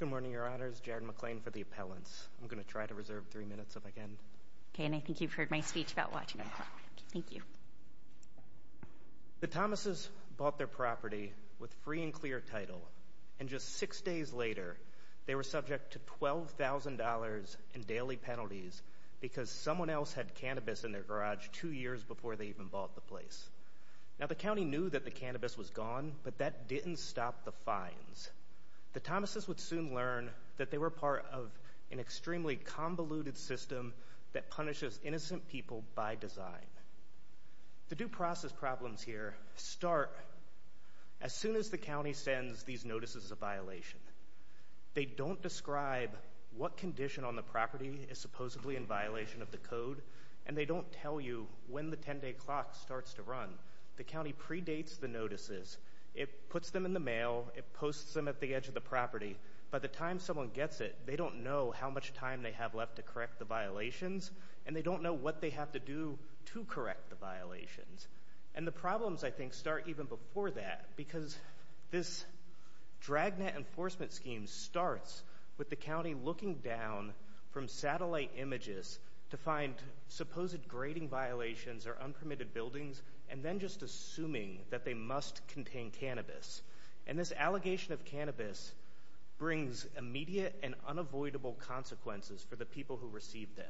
Good morning, your honors. Jared McClain for the appellants. I'm gonna try to reserve three minutes if I can. Okay, and I think you've heard my speech about watching the clock. Thank you. The Thomases bought their property with free and clear title and just six days later they were subject to $12,000 in daily penalties because someone else had cannabis in their garage two years before they even bought the place. Now the county knew that the cannabis was fines. The Thomases would soon learn that they were part of an extremely convoluted system that punishes innocent people by design. The due process problems here start as soon as the county sends these notices of violation. They don't describe what condition on the property is supposedly in violation of the code and they don't tell you when the 10-day clock starts to run. The mail, it posts them at the edge of the property. By the time someone gets it, they don't know how much time they have left to correct the violations and they don't know what they have to do to correct the violations. And the problems I think start even before that because this dragnet enforcement scheme starts with the county looking down from satellite images to find supposed grading violations or unpermitted buildings and then just assuming that they must contain cannabis. And this allegation of cannabis brings immediate and unavoidable consequences for the people who receive them.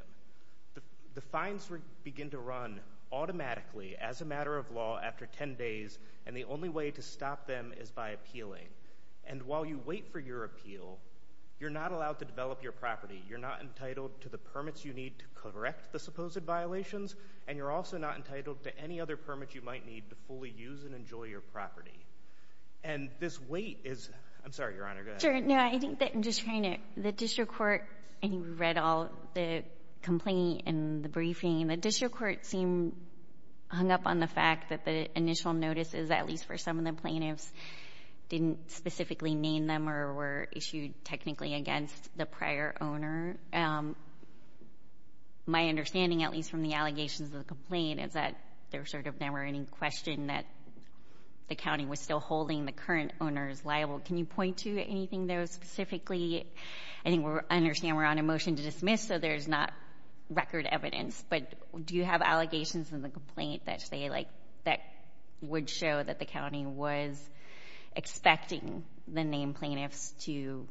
The fines begin to run automatically as a matter of law after 10 days and the only way to stop them is by appealing. And while you wait for your appeal, you're not allowed to develop your property. You're not entitled to the permits you need to correct the supposed violations and you're also not entitled to any other property. And this wait is, I'm sorry Your Honor, go ahead. Sure, no, I think that I'm just trying to, the district court, I think we read all the complaint and the briefing. The district court seemed hung up on the fact that the initial notices, at least for some of the plaintiffs, didn't specifically name them or were issued technically against the prior owner. My understanding, at least from the allegations of the complaint, is that there sort of never any question that the county was still holding the current owners liable. Can you point to anything there specifically? I think we're, I understand we're on a motion to dismiss so there's not record evidence, but do you have allegations in the complaint that say like, that would show that the county was expecting the named plaintiffs to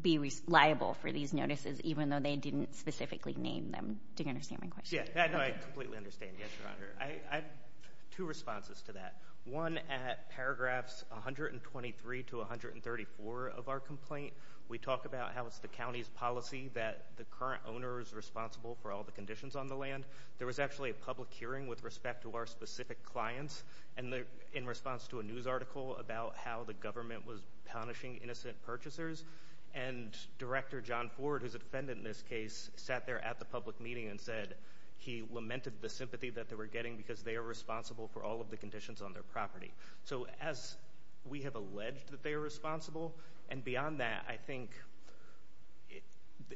be liable for these notices even though they didn't specifically name them? Do you understand my question? Yeah, I completely understand. Yes, Your Honor. I have two responses to that. One at paragraphs 123 to 134 of our complaint, we talk about how it's the county's policy that the current owner is responsible for all the conditions on the land. There was actually a public hearing with respect to our specific clients and in response to a news article about how the government was punishing innocent purchasers and Director John Ford, who's offended in this case, sat there at the public meeting and said he lamented the sympathy that they were getting because they are responsible for all of the conditions on their property. So as we have alleged that they are responsible and beyond that I think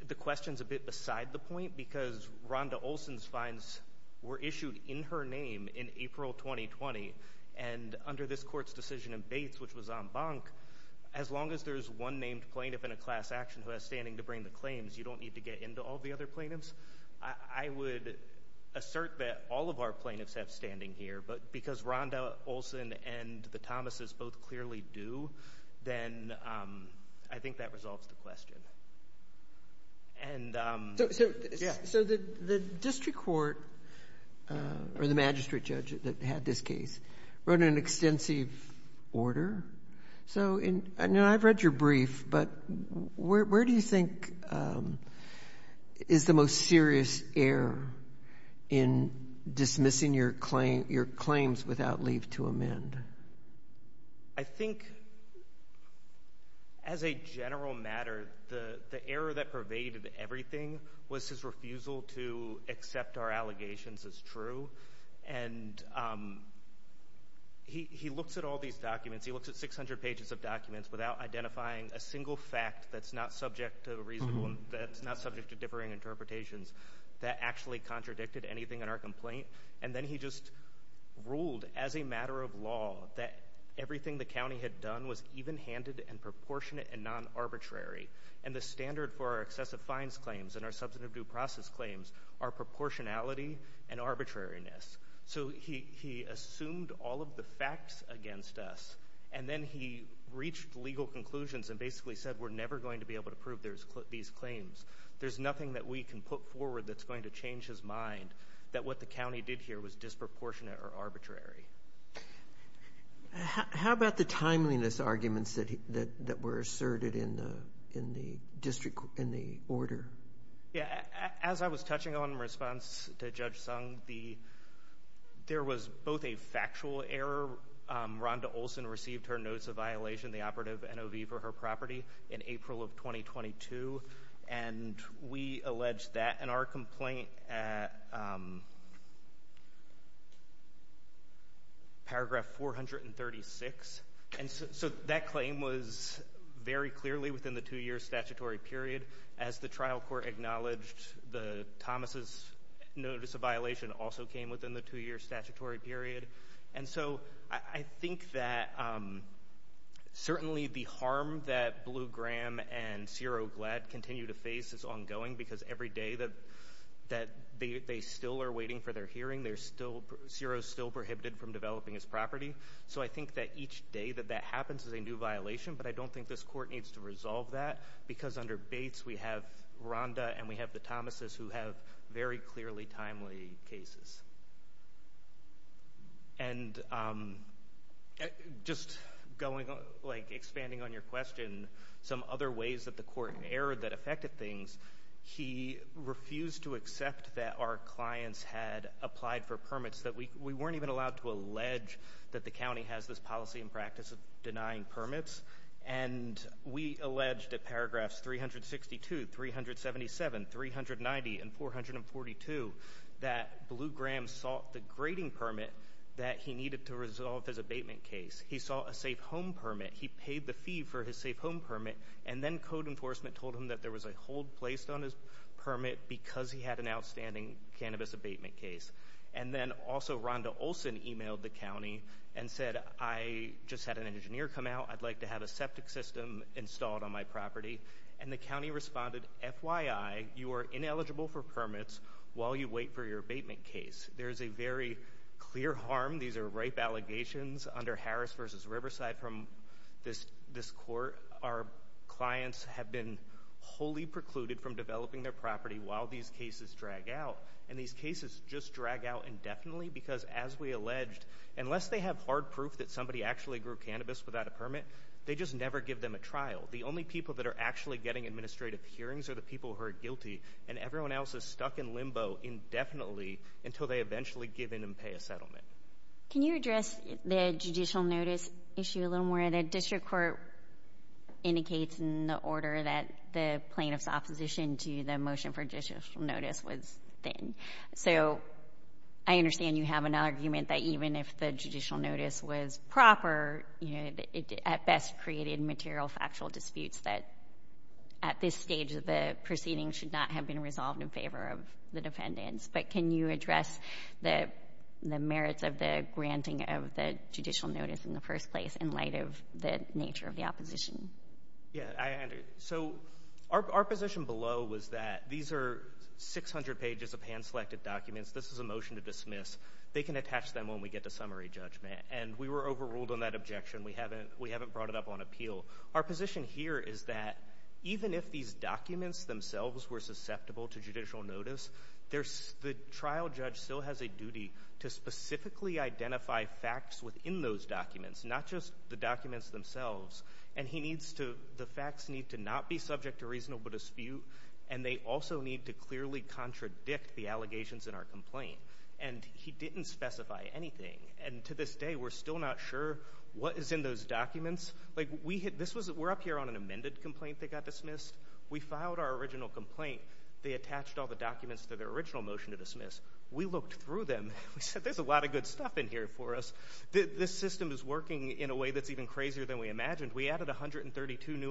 the question's a bit beside the point because Rhonda Olson's fines were issued in her name in April 2020 and under this court's decision in Bates, which was en banc, as long as there's one named plaintiff in a into all the other plaintiffs, I would assert that all of our plaintiffs have standing here, but because Rhonda Olson and the Thomases both clearly do, then I think that resolves the question. So the district court or the magistrate judge that had this case wrote an extensive order. So I know I've read your brief, but where do you think is the most serious error in dismissing your claims without leave to amend? I think as a general matter the error that pervaded everything was his refusal to accept our allegations as true and he looks at all these documents, he looks at 600 pages of documents without identifying a single fact that's not subject to a reasonable, that's not subject to differing interpretations, that actually contradicted anything in our complaint and then he just ruled as a matter of law that everything the county had done was even-handed and proportionate and non-arbitrary and the standard for our excessive fines claims and our substantive due process claims are proportionality and arbitrariness. So he assumed all of the facts against us and then he reached legal conclusions and basically said we're never going to be able to prove these claims. There's nothing that we can put forward that's going to change his mind that what the county did here was disproportionate or arbitrary. How about the timeliness arguments that were asserted in the district, in the order? Yeah, as I was touching on in there was both a factual error, Rhonda Olson received her notice of violation the operative NOV for her property in April of 2022 and we alleged that in our complaint paragraph 436 and so that claim was very clearly within the two years statutory period as the trial court acknowledged the Thomas's notice of violation also came within the two-year statutory period and so I think that certainly the harm that Blue Graham and Ciro Glead continue to face is ongoing because every day that that they still are waiting for their hearing they're still Ciro's still prohibited from developing his property so I think that each day that that happens is a new violation but I don't think this court needs to resolve that because under Bates we have Rhonda and we have the cases and just going on like expanding on your question some other ways that the court erred that affected things he refused to accept that our clients had applied for permits that we we weren't even allowed to allege that the county has this policy and practice of denying permits and we alleged at paragraphs 362 377 390 and 442 that Blue Graham sought the grading permit that he needed to resolve his abatement case he saw a safe home permit he paid the fee for his safe home permit and then code enforcement told him that there was a hold placed on his permit because he had an outstanding cannabis abatement case and then also Rhonda Olson emailed the county and said I just had an engineer come out I'd like to have a septic system installed on my property and the county responded FYI you are ineligible for permits while you wait for your abatement case there's a very clear harm these are ripe allegations under Harris versus Riverside from this this court our clients have been wholly precluded from developing their property while these cases drag out and these cases just drag out indefinitely because as we alleged unless they have hard proof that somebody actually grew cannabis without a permit they just never give them a trial the only people that are actually getting administrative hearings are the people who are guilty and everyone else is stuck in limbo indefinitely until they eventually give in and pay a settlement can you address the judicial notice issue a little more the district court indicates in the order that the plaintiffs opposition to the motion for judicial notice was thin so I understand you have an argument that even if the judicial notice was proper you know it at best created material factual disputes that at this stage of the proceeding should not have been resolved in favor of the defendants but can you address the merits of the granting of the judicial notice in the first place in light of the nature of the opposition yeah so our position below was that these are 600 pages of hand-selected documents this is a motion to dismiss they can attach them when we get to summary judgment and we were overruled on that objection we haven't we haven't brought it up on appeal our position here is that even if these documents themselves were susceptible to judicial notice there's the trial judge still has a duty to specifically identify facts within those documents not just the documents themselves and he needs to the need to clearly contradict the allegations in our complaint and he didn't specify anything and to this day we're still not sure what is in those documents like we hit this was it we're up here on an amended complaint they got dismissed we filed our original complaint they attached all the documents for their original motion to dismiss we looked through them we said there's a lot of good stuff in here for us this system is working in a way that's even crazier than we imagined we added a hundred and thirty two new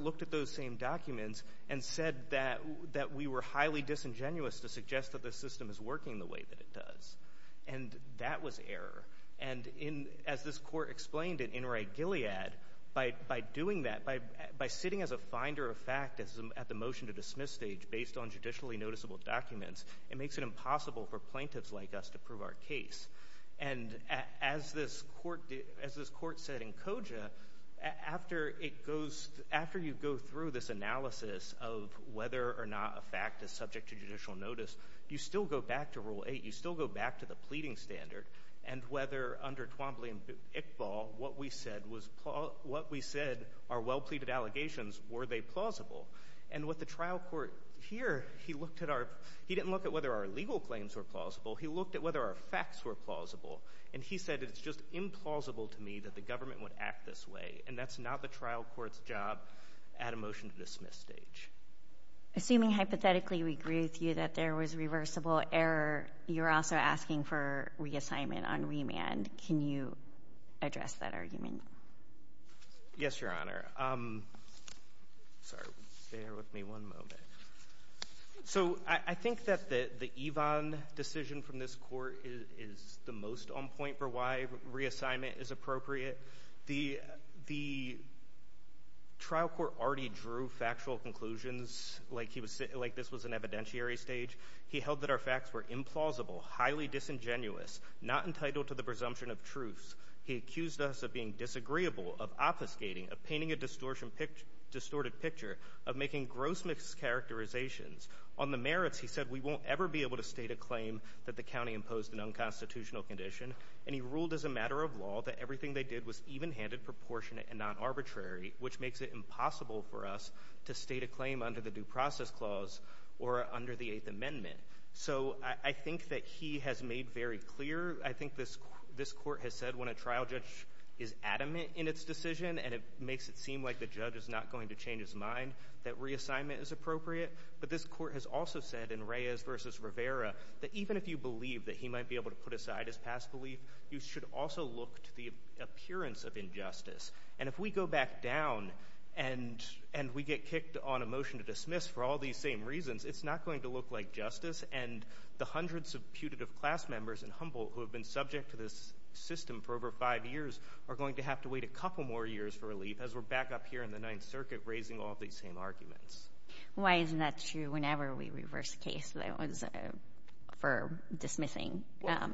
looked at those same documents and said that that we were highly disingenuous to suggest that the system is working the way that it does and that was error and in as this court explained it in right Gilead by doing that by by sitting as a finder of fact as at the motion to dismiss stage based on judicially noticeable documents it makes it impossible for plaintiffs like us to prove our case and as this court as this court said in koja after it goes after you go through this analysis of whether or not a fact is subject to judicial notice you still go back to rule 8 you still go back to the pleading standard and whether under Twombly and Iqbal what we said was what we said are well pleaded allegations were they plausible and what the trial court here he looked at our he didn't look at whether our legal claims were plausible he looked at whether our facts were plausible and he said it's just implausible to me that the at a motion to dismiss stage assuming hypothetically we agree with you that there was reversible error you're also asking for reassignment on remand can you address that argument yes your honor um sorry bear with me one moment so I think that the the Yvonne decision from this court is the most on point for why reassignment is appropriate the the trial court already drew factual conclusions like he was like this was an evidentiary stage he held that our facts were implausible highly disingenuous not entitled to the presumption of truth he accused us of being disagreeable of obfuscating of painting a distortion picture distorted picture of making gross mischaracterizations on the merits he said we won't ever be able to state a claim that the county imposed an unconstitutional condition and he ruled as a matter of law that everything they did was even-handed proportionate and non-arbitrary which makes it impossible for us to state a claim under the due process clause or under the Eighth Amendment so I think that he has made very clear I think this this court has said when a trial judge is adamant in its decision and it makes it seem like the judge is not going to change his mind that reassignment is appropriate but this court has also said in Reyes versus Rivera that even if you believe that he might be able to put aside his past belief you should also look to the appearance of injustice and if we go back down and and we get kicked on a motion to dismiss for all these same reasons it's not going to look like justice and the hundreds of putative class members and humble who have been subject to this system for over five years are going to have to wait a couple more years for relief as we're back up here in the Ninth Circuit raising all these same arguments. Why isn't that true whenever we reverse case for dismissing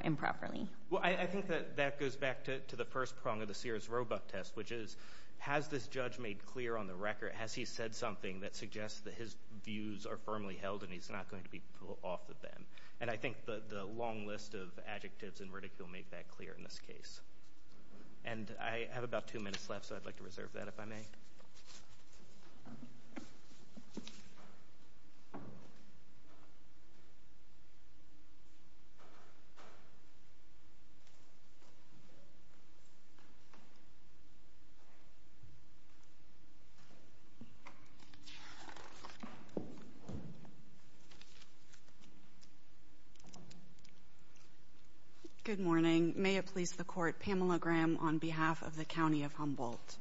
improperly? Well I think that that goes back to the first prong of the Sears Roebuck test which is has this judge made clear on the record has he said something that suggests that his views are firmly held and he's not going to be pulled off of them and I think that the long list of adjectives and ridicule make that clear in this case. And I have about two minutes left so I'd like to reserve that if I may. Yeah. Good morning. May it please the court. Pamela Graham on behalf of the county of Humboldt.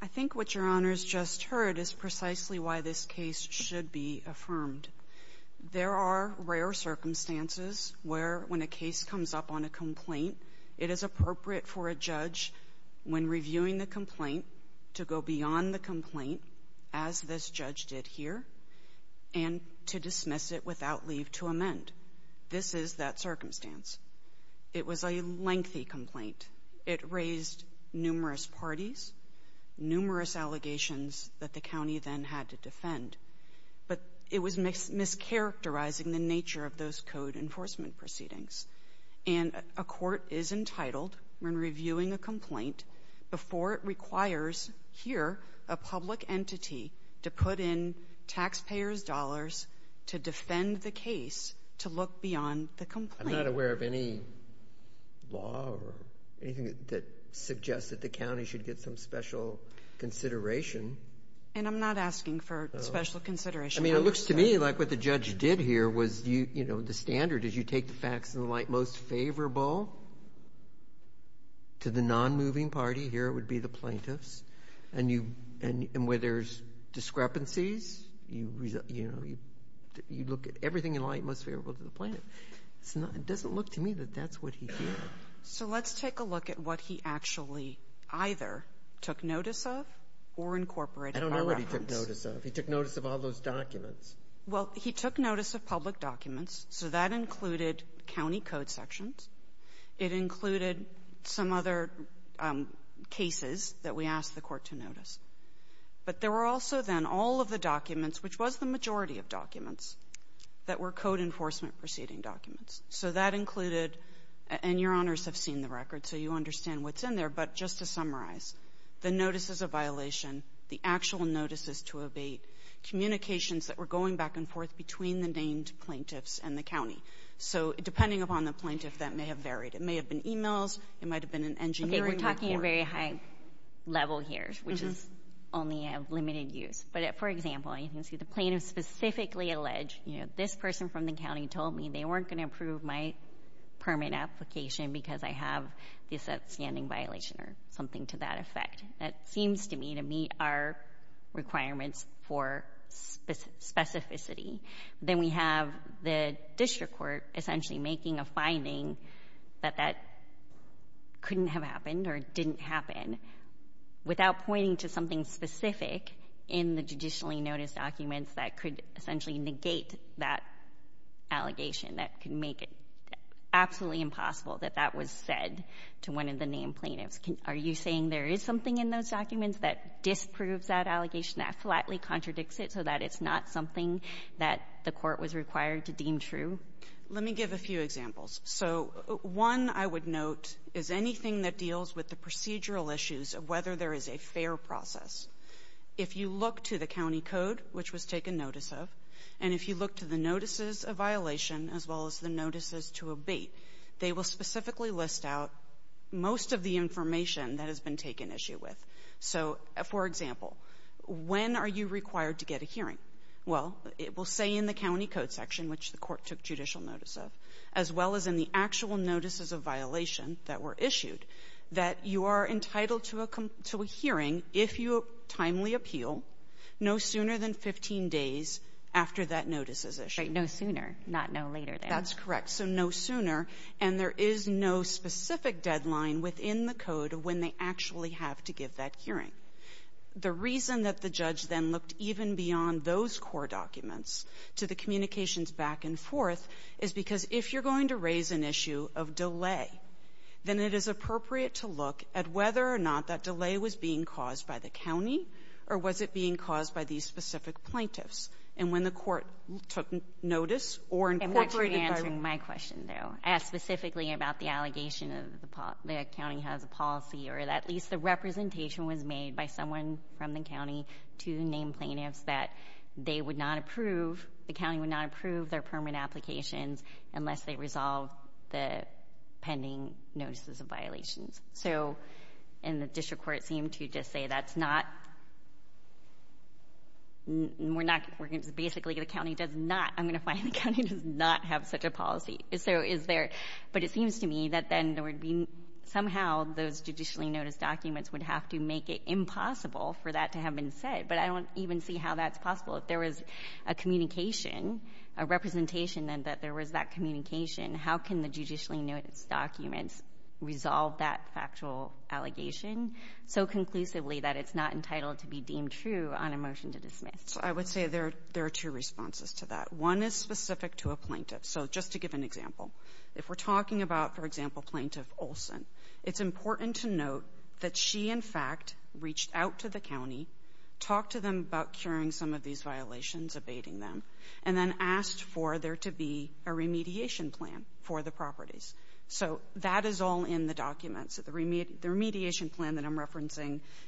I think what your honors just heard is precisely why this case should be affirmed. There are rare circumstances where when a case comes up on a complaint, it is appropriate for a judge when reviewing the complaint to go beyond the complaint as this judge did here and to dismiss it without leave to amend. This is that circumstance. It was a lengthy complaint. It raised numerous parties, numerous allegations that the county then had to defend but it was mischaracterizing the nature of those code enforcement proceedings and a court is entitled when reviewing a complaint before it requires here a public entity to put in taxpayers dollars to defend the case to look beyond the complaint. I'm not aware of any law or anything that suggests that the county should get some special consideration. And I'm not asking for special consideration. I mean it looks to me like what the judge did here was you, you know, the standard is you take the facts and the light most favorable to the non-moving party. Here it would be the plaintiffs and you and where there's discrepancies, you know, you look at everything in light most favorable to the plaintiff. It doesn't look to me that that's what he actually either took notice of or incorporated. I don't know what he took notice of. He took notice of all those documents. Well, he took notice of public documents so that included county code sections. It included some other cases that we asked the court to notice. But there were also then all of the documents which was the majority of documents that were code enforcement proceeding documents. So that included, and your honors have seen the what's in there, but just to summarize, the notices of violation, the actual notices to evade, communications that were going back and forth between the named plaintiffs and the county. So depending upon the plaintiff that may have varied. It may have been emails. It might have been an engineering report. We're talking a very high level here, which is only a limited use. But for example, you can see the plaintiff specifically alleged, you know, this person from the county told me they weren't going to approve my permit application because I have this outstanding violation or something to that effect. That seems to me to meet our requirements for specificity. Then we have the district court essentially making a finding that that couldn't have happened or didn't happen without pointing to something specific in the judicially noticed documents that could essentially negate that allegation, that could make it that was said to one of the named plaintiffs. Are you saying there is something in those documents that disproves that allegation, that flatly contradicts it so that it's not something that the court was required to deem true? Let me give a few examples. So one I would note is anything that deals with the procedural issues of whether there is a fair process. If you look to the county code, which was taken notice of, and if you look to the notices of most of the information that has been taken issue with. So for example, when are you required to get a hearing? Well, it will say in the county code section, which the court took judicial notice of, as well as in the actual notices of violation that were issued, that you are entitled to a hearing if you timely appeal no sooner than 15 days after that notice is issued. No sooner, not no later. That's correct. So no sooner. And there is no specific deadline within the code when they actually have to give that hearing. The reason that the judge then looked even beyond those core documents to the communications back and forth is because if you're going to raise an issue of delay, then it is appropriate to look at whether or not that delay was being caused by the county, or was it being caused by these specific plaintiffs? And when the court took notice, or in court... And what you're answering my question though, as specifically about the allegation of the county has a policy, or that at least the representation was made by someone from the county to name plaintiffs that they would not approve, the county would not approve their permit applications unless they resolve the pending notices of violations. So, and the district court seemed to just say that's not... We're not... Basically the county does not... I'm gonna find the county does not have such a policy. So is there... But it seems to me that then there would be somehow those judicially noticed documents would have to make it impossible for that to have been said. But I don't even see how that's possible. If there was a communication, a representation, and that there was that communication, how can the judicially noticed documents resolve that factual allegation so conclusively that it's not entitled to be deemed true on a motion to dismiss? So I would say there are two responses to that. One is specific to a plaintiff. So just to give an example, if we're talking about, for example, plaintiff Olson, it's important to note that she, in fact, reached out to the county, talked to them about curing some of these violations, abating them, and then asked for there to be a remediation plan for the properties. So that is all in the document. So the document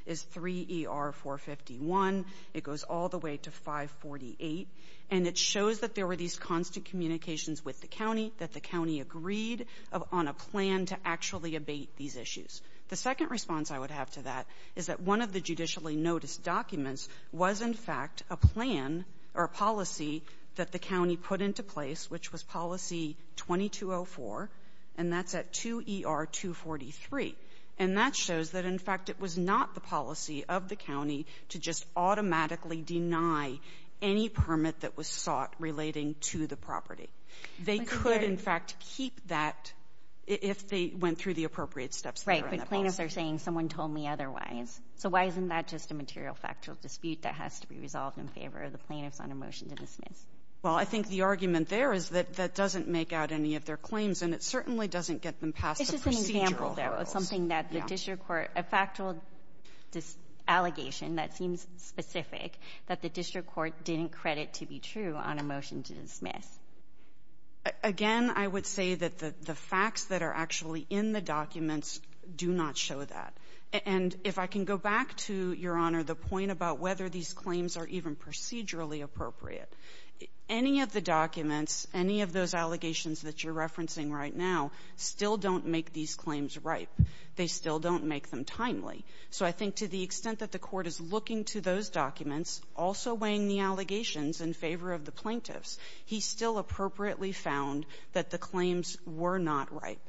is 3 ER 451. It goes all the way to 548. And it shows that there were these constant communications with the county, that the county agreed on a plan to actually abate these issues. The second response I would have to that is that one of the judicially noticed documents was, in fact, a plan or a policy that the county put into place, which was policy 2204, and that's at 2 ER 243. And that shows that, in fact, it was not the policy of the county to just automatically deny any permit that was sought relating to the property. They could, in fact, keep that if they went through the appropriate steps. Right, but plaintiffs are saying someone told me otherwise. So why isn't that just a material factual dispute that has to be resolved in favor of the plaintiffs on a motion to dismiss? Well, I think the argument there is that that doesn't make out any of their claims, and it certainly doesn't get them past the procedural hurdles. Something that the district court, a factual allegation that seems specific, that the district court didn't credit to be true on a motion to dismiss. Again, I would say that the facts that are actually in the documents do not show that. And if I can go back to, Your Honor, the point about whether these claims are even procedurally appropriate. Any of the documents, any of those allegations that you're referencing right now, still don't make these claims ripe. They still don't make them timely. So I think to the extent that the court is looking to those documents, also weighing the allegations in favor of the plaintiffs, he still appropriately found that the claims were not ripe.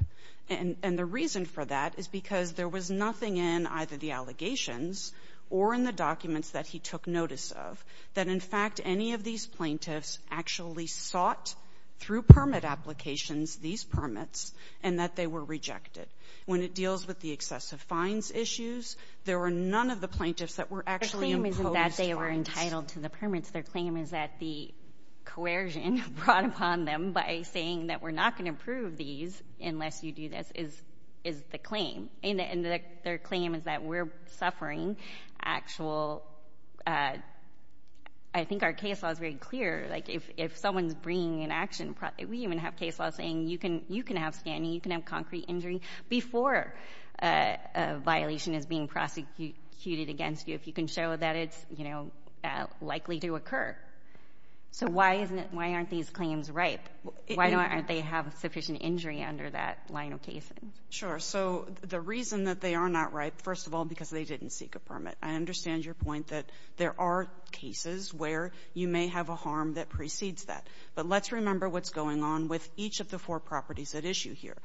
And the reason for that is because there was nothing in either the allegations or in the documents that he took notice of that, in fact, any of these plaintiffs actually sought through permit applications, these permits, and that they were rejected. When it deals with the excessive fines issues, there were none of the plaintiffs that were actually imposed fines. The claim isn't that they were entitled to the permits. Their claim is that the coercion brought upon them by saying that we're not going to prove these unless you do this, is the claim. And their claim is that we're suffering actual, I mean, we even have case law saying you can have standing, you can have concrete injury before a violation is being prosecuted against you if you can show that it's likely to occur. So why aren't these claims ripe? Why don't they have sufficient injury under that line of case? Sure. So the reason that they are not ripe, first of all, because they didn't seek a permit. I understand your point that there are cases where you may have a harm that precedes that. But let's remember what's going on with each of the four properties at issue here.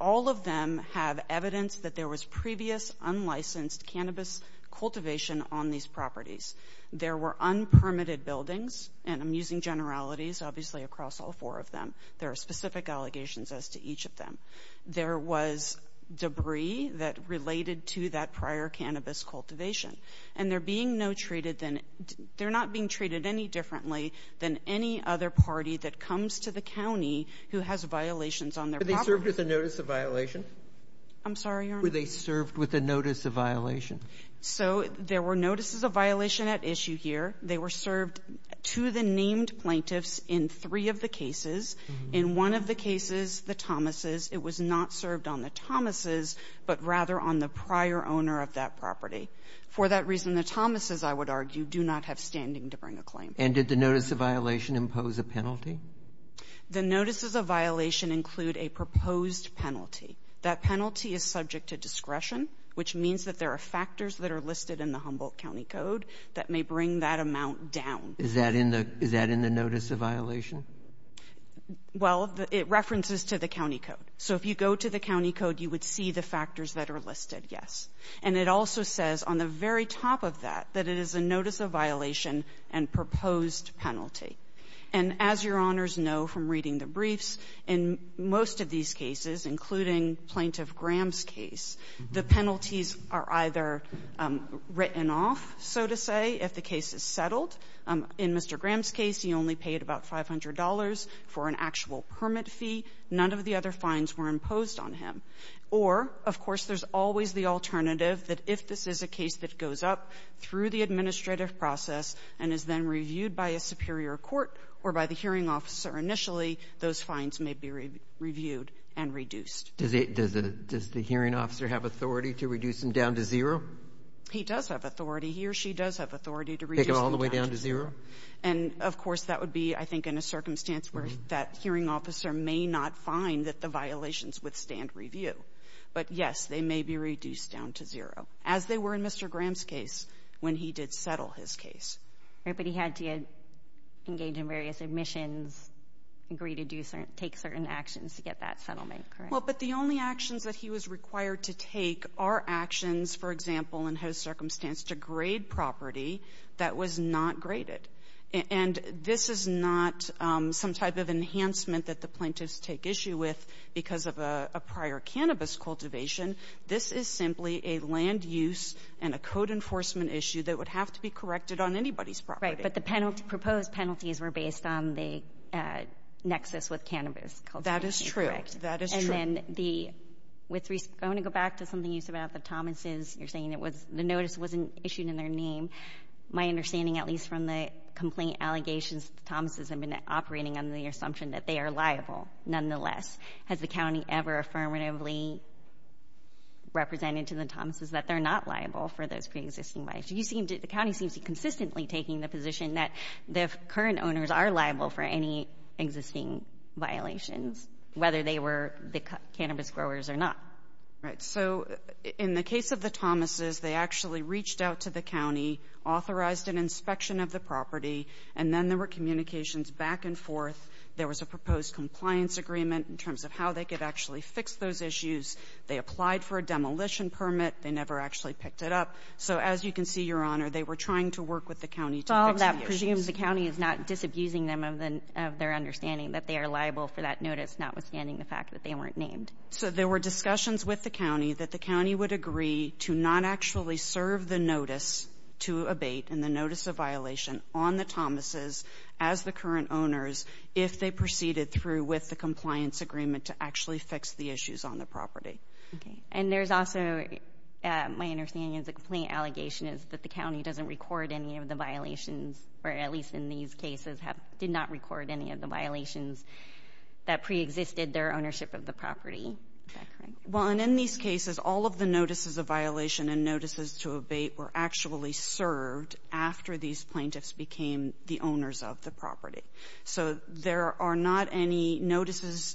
All of them have evidence that there was previous unlicensed cannabis cultivation on these properties. There were unpermitted buildings, and I'm using generalities, obviously, across all four of them. There are specific allegations as to each of them. There was debris that related to that prior cannabis cultivation. And they're being no treated any differently than any other party that comes to the county who has violations on their property. Were they served with a notice of violation? I'm sorry, Your Honor? Were they served with a notice of violation? So there were notices of violation at issue here. They were served to the named plaintiffs in three of the cases. In one of the cases, the Thomases, it was not served on the Thomases, but rather on the prior owner of that property. For that reason, the Thomases, I would argue, do not have standing to bring a claim. And did the notice of violation impose a penalty? The notices of violation include a proposed penalty. That penalty is subject to discretion, which means that there are factors that are listed in the Humboldt County Code that may bring that amount down. Is that in the notice of violation? Well, it references to the county code. So if you go to the county code, you would see the factors that are listed, yes. And it also says on the very top of that, that it is a notice of violation and proposed penalty. And as Your Honors know from reading the briefs, in most of these cases, including Plaintiff Graham's case, the penalties are either written off, so to say, if the case is settled. In Mr. Graham's case, he only paid about $500 for an actual permit fee. None of the other fines were imposed on him. Or, of course, there's always the alternative that if this is a case that goes up through the administrative process and is then reviewed by a superior court or by the hearing officer initially, those fines may be reviewed and reduced. Does the hearing officer have authority to reduce them down to zero? He does have authority. He or she does have authority to reduce them down to zero. Take them all the way down to zero? And, of course, that would be, I think, in a circumstance where that hearing officer may not find that the violations withstand review. But, yes, they may be reduced down to zero, as they were in Mr. Graham's case when he did settle his case. But he had to engage in various admissions, agree to take certain actions to get that settlement, correct? Well, but the only actions that he was required to take are actions, for example, in his circumstance to grade property that was not graded. And this is not some type of enhancement that the plaintiffs take issue with because of a prior cannabis cultivation. This is simply a land use and a code enforcement issue that would have to be corrected on anybody's property. Right. But the proposed penalties were based on the nexus with cannabis cultivation, correct? That is true. That is true. And then the, I want to go back to something you said about the Thomases. You're saying the notice wasn't issued in their name. My understanding, at least from the complaint allegations, the Thomases have been operating under the assumption that they are liable. Nonetheless, has the county ever affirmatively represented to the Thomases that they're not liable for those pre-existing violations? You seem to, the county seems to consistently taking the position that the current owners are liable for any existing violations, whether they were the cannabis growers or not. Right. So in the case of the Thomases, they actually reached out to the county, authorized an inspection of the property, and then there were communications back and forth. There was a proposed compliance agreement in terms of how they could actually fix those issues. They applied for a demolition permit. They never actually picked it up. So as you can see, Your Honor, they were trying to work with the county to fix the issues. So all of that presumes the county is not disabusing them of their understanding that they are liable for that notice, notwithstanding the fact that they weren't named. So there were discussions with the county that the county would agree to not actually serve the notice to abate and the notice of violation on the Thomases as the current owners if they proceeded through with the compliance agreement to actually fix the issues on the property. And there's also, my understanding is the complaint allegation is that the county doesn't record any of the violations, or at least in these cases, did not record any of the property. Well, and in these cases, all of the notices of violation and notices to abate were actually served after these plaintiffs became the owners of the property. So there are not any notices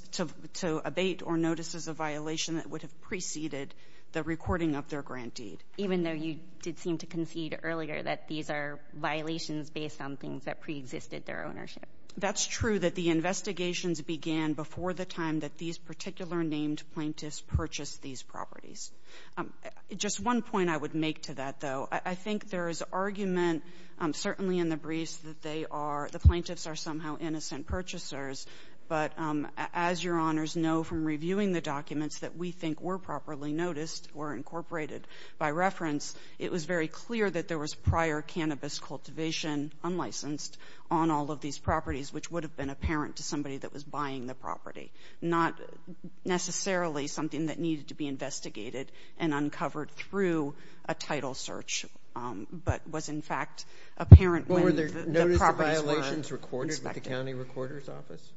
to abate or notices of violation that would have preceded the recording of their grant deed. Even though you did seem to concede earlier that these are violations based on things that preexisted their ownership. That's true that the investigations began before the time that these particular named plaintiffs purchased these properties. Just one point I would make to that, though. I think there is argument, certainly in the briefs, that they are, the plaintiffs are somehow innocent purchasers. But as your honors know from reviewing the documents that we think were properly noticed or incorporated by reference, it was very clear that there was prior cannabis cultivation, unlicensed, on all of these properties, which would have been apparent to somebody that was buying the property. Not necessarily something that needed to be investigated and uncovered through a title search, but was, in fact, apparent when the properties were not inspected. Were there notices of violations recorded with the county recorder's office?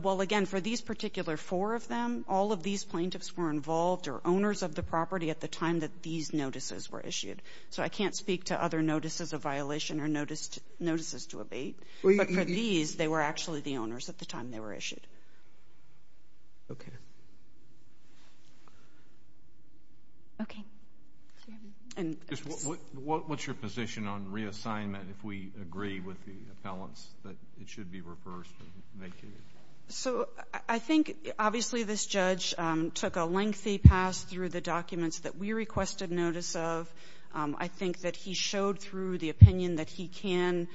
Well, again, for these particular four of them, all of these plaintiffs were involved or owners of the property at the time that these notices were issued. So I can't speak to other notices of violation or notices to abate. But for these, they were actually the owners at the time they were issued. What's your position on reassignment if we agree with the appellants that it should be reversed and vacated? So I think, obviously, this judge took a lengthy pass through the documents that we requested notice of. I think that he showed through the opinion that he can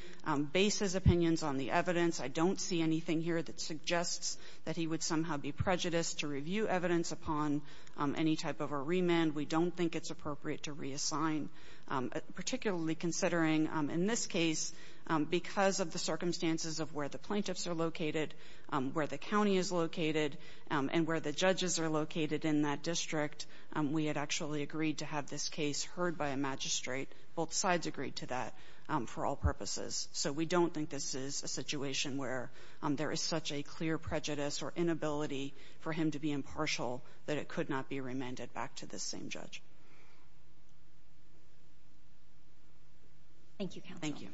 base his opinions on the evidence. I don't see anything here that suggests that he would somehow be prejudiced to review evidence upon any type of a remand. We don't think it's appropriate to reassign. Particularly considering, in this case, because of the circumstances of where the plaintiffs are located, where the county is located, and where the judges are located in that district, we had actually agreed to have this case heard by a magistrate. Both sides agreed to that for all purposes. So we don't think this is a situation where there is such a clear prejudice or inability for him to be impartial that it could not be remanded back to the same judge. Thank you, counsel. Thank you,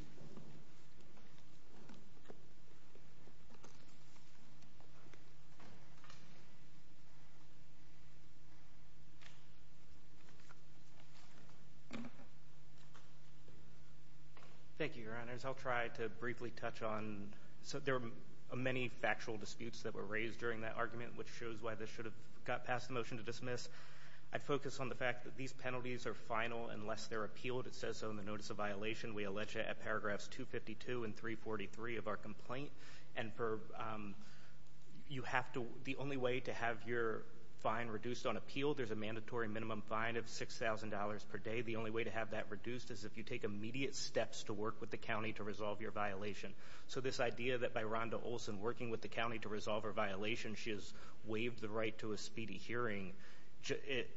Your Honors. I'll try to briefly touch on—so there were many factual disputes that were raised during that argument, which shows why this should have got past the motion to dismiss. I'd focus on the fact that these penalties are final unless they're appealed. It says so in the notice of violation. We allege it at paragraphs 252 and 343 of our complaint. And you have to—the only way to have your fine reduced on appeal, there's a mandatory minimum fine of $6,000 per day. The only way to have that reduced is if you take immediate steps to work with the county to resolve your violation. So this idea that by Rhonda Olson working with the county to resolve her violation, she has waived the right to a speedy hearing,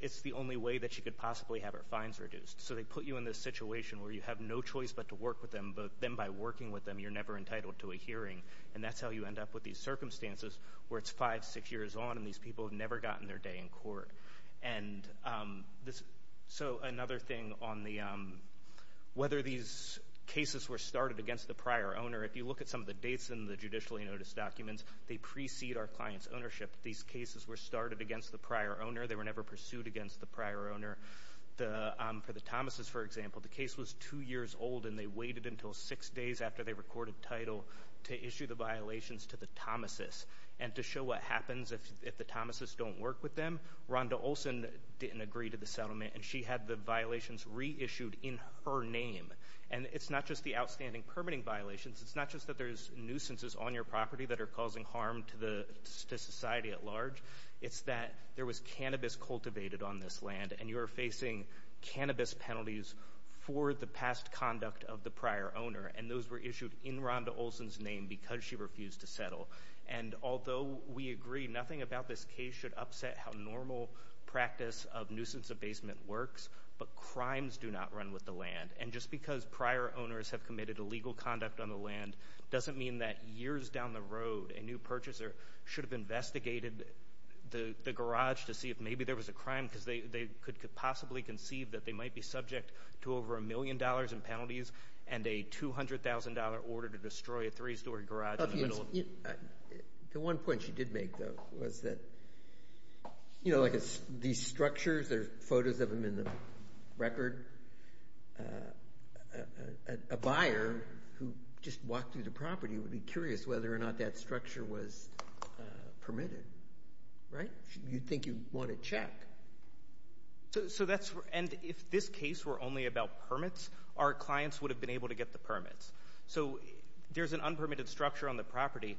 it's the only way that she could possibly have her fines reduced. So they put you in this situation where you have no choice but to work with them, but then by working with them, you're never entitled to a hearing. And that's how you end up with these circumstances where it's five, six years on, and these people have never gotten their first day in court. So another thing on whether these cases were started against the prior owner, if you look at some of the dates in the judicially noticed documents, they precede our client's ownership. These cases were started against the prior owner. They were never pursued against the prior owner. For the Thomases, for example, the case was two years old, and they waited until six days after they recorded title to issue the violations to the Thomases and to them, Rhonda Olson didn't agree to the settlement, and she had the violations reissued in her name. And it's not just the outstanding permitting violations. It's not just that there's nuisances on your property that are causing harm to society at large. It's that there was cannabis cultivated on this land, and you are facing cannabis penalties for the past conduct of the prior owner, and those were issued in Rhonda Olson's name because she refused to practice of nuisance abasement works, but crimes do not run with the land. And just because prior owners have committed illegal conduct on the land doesn't mean that years down the road a new purchaser should have investigated the garage to see if maybe there was a crime, because they could possibly conceive that they might be subject to over a million dollars in penalties and a $200,000 order to destroy a three-story garage in the middle of the property. The one point she did make, though, was that, you know, like these structures, there's photos of them in the record. A buyer who just walked through the property would be curious whether or not that structure was permitted, right? You'd think you'd want to check. So that's, and if this case were only about permits, our clients would have been able to get the permits. So there's an unpermitted structure on the property,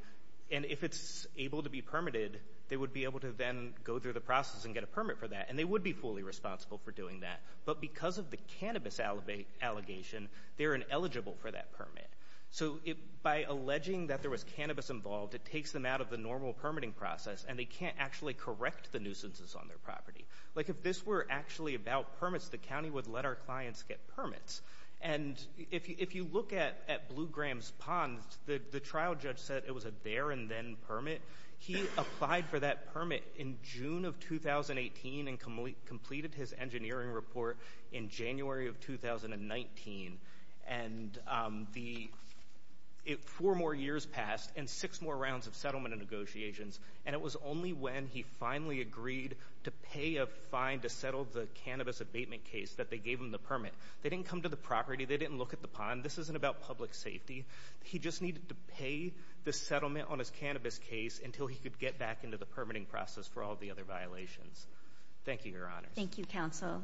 and if it's able to be permitted, they would be able to then go through the process and get a permit for that, and they would be fully responsible for doing that, but because of the cannabis allegation, they're ineligible for that permit. So by alleging that there was cannabis involved, it takes them out of the normal permitting process, and they can't actually correct the nuisances on their property. Like if this were actually about permits, the county would let our clients get permits, and if you look at Blue Graham's Pond, the trial judge said it was a there-and-then permit. He applied for that permit in June of 2018 and completed his engineering report in January of 2019, and four more years passed and six more rounds of settlement and negotiations, and it was only when he finally agreed to pay a fine to settle the cannabis abatement case that they gave him the permit. They didn't come to the property. They didn't look at the pond. This isn't about public safety. He just needed to pay the settlement on his cannabis case until he could get back into the permitting process for all the other violations. Thank you, Your Honor. Thank you, counsel.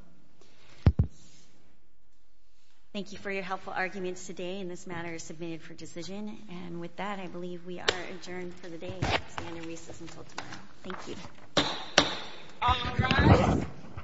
Thank you for your helpful arguments today, and this matter is submitted for decision, and with that, I believe we are adjourned for the day. I'll stand in recess until tomorrow. Thank you.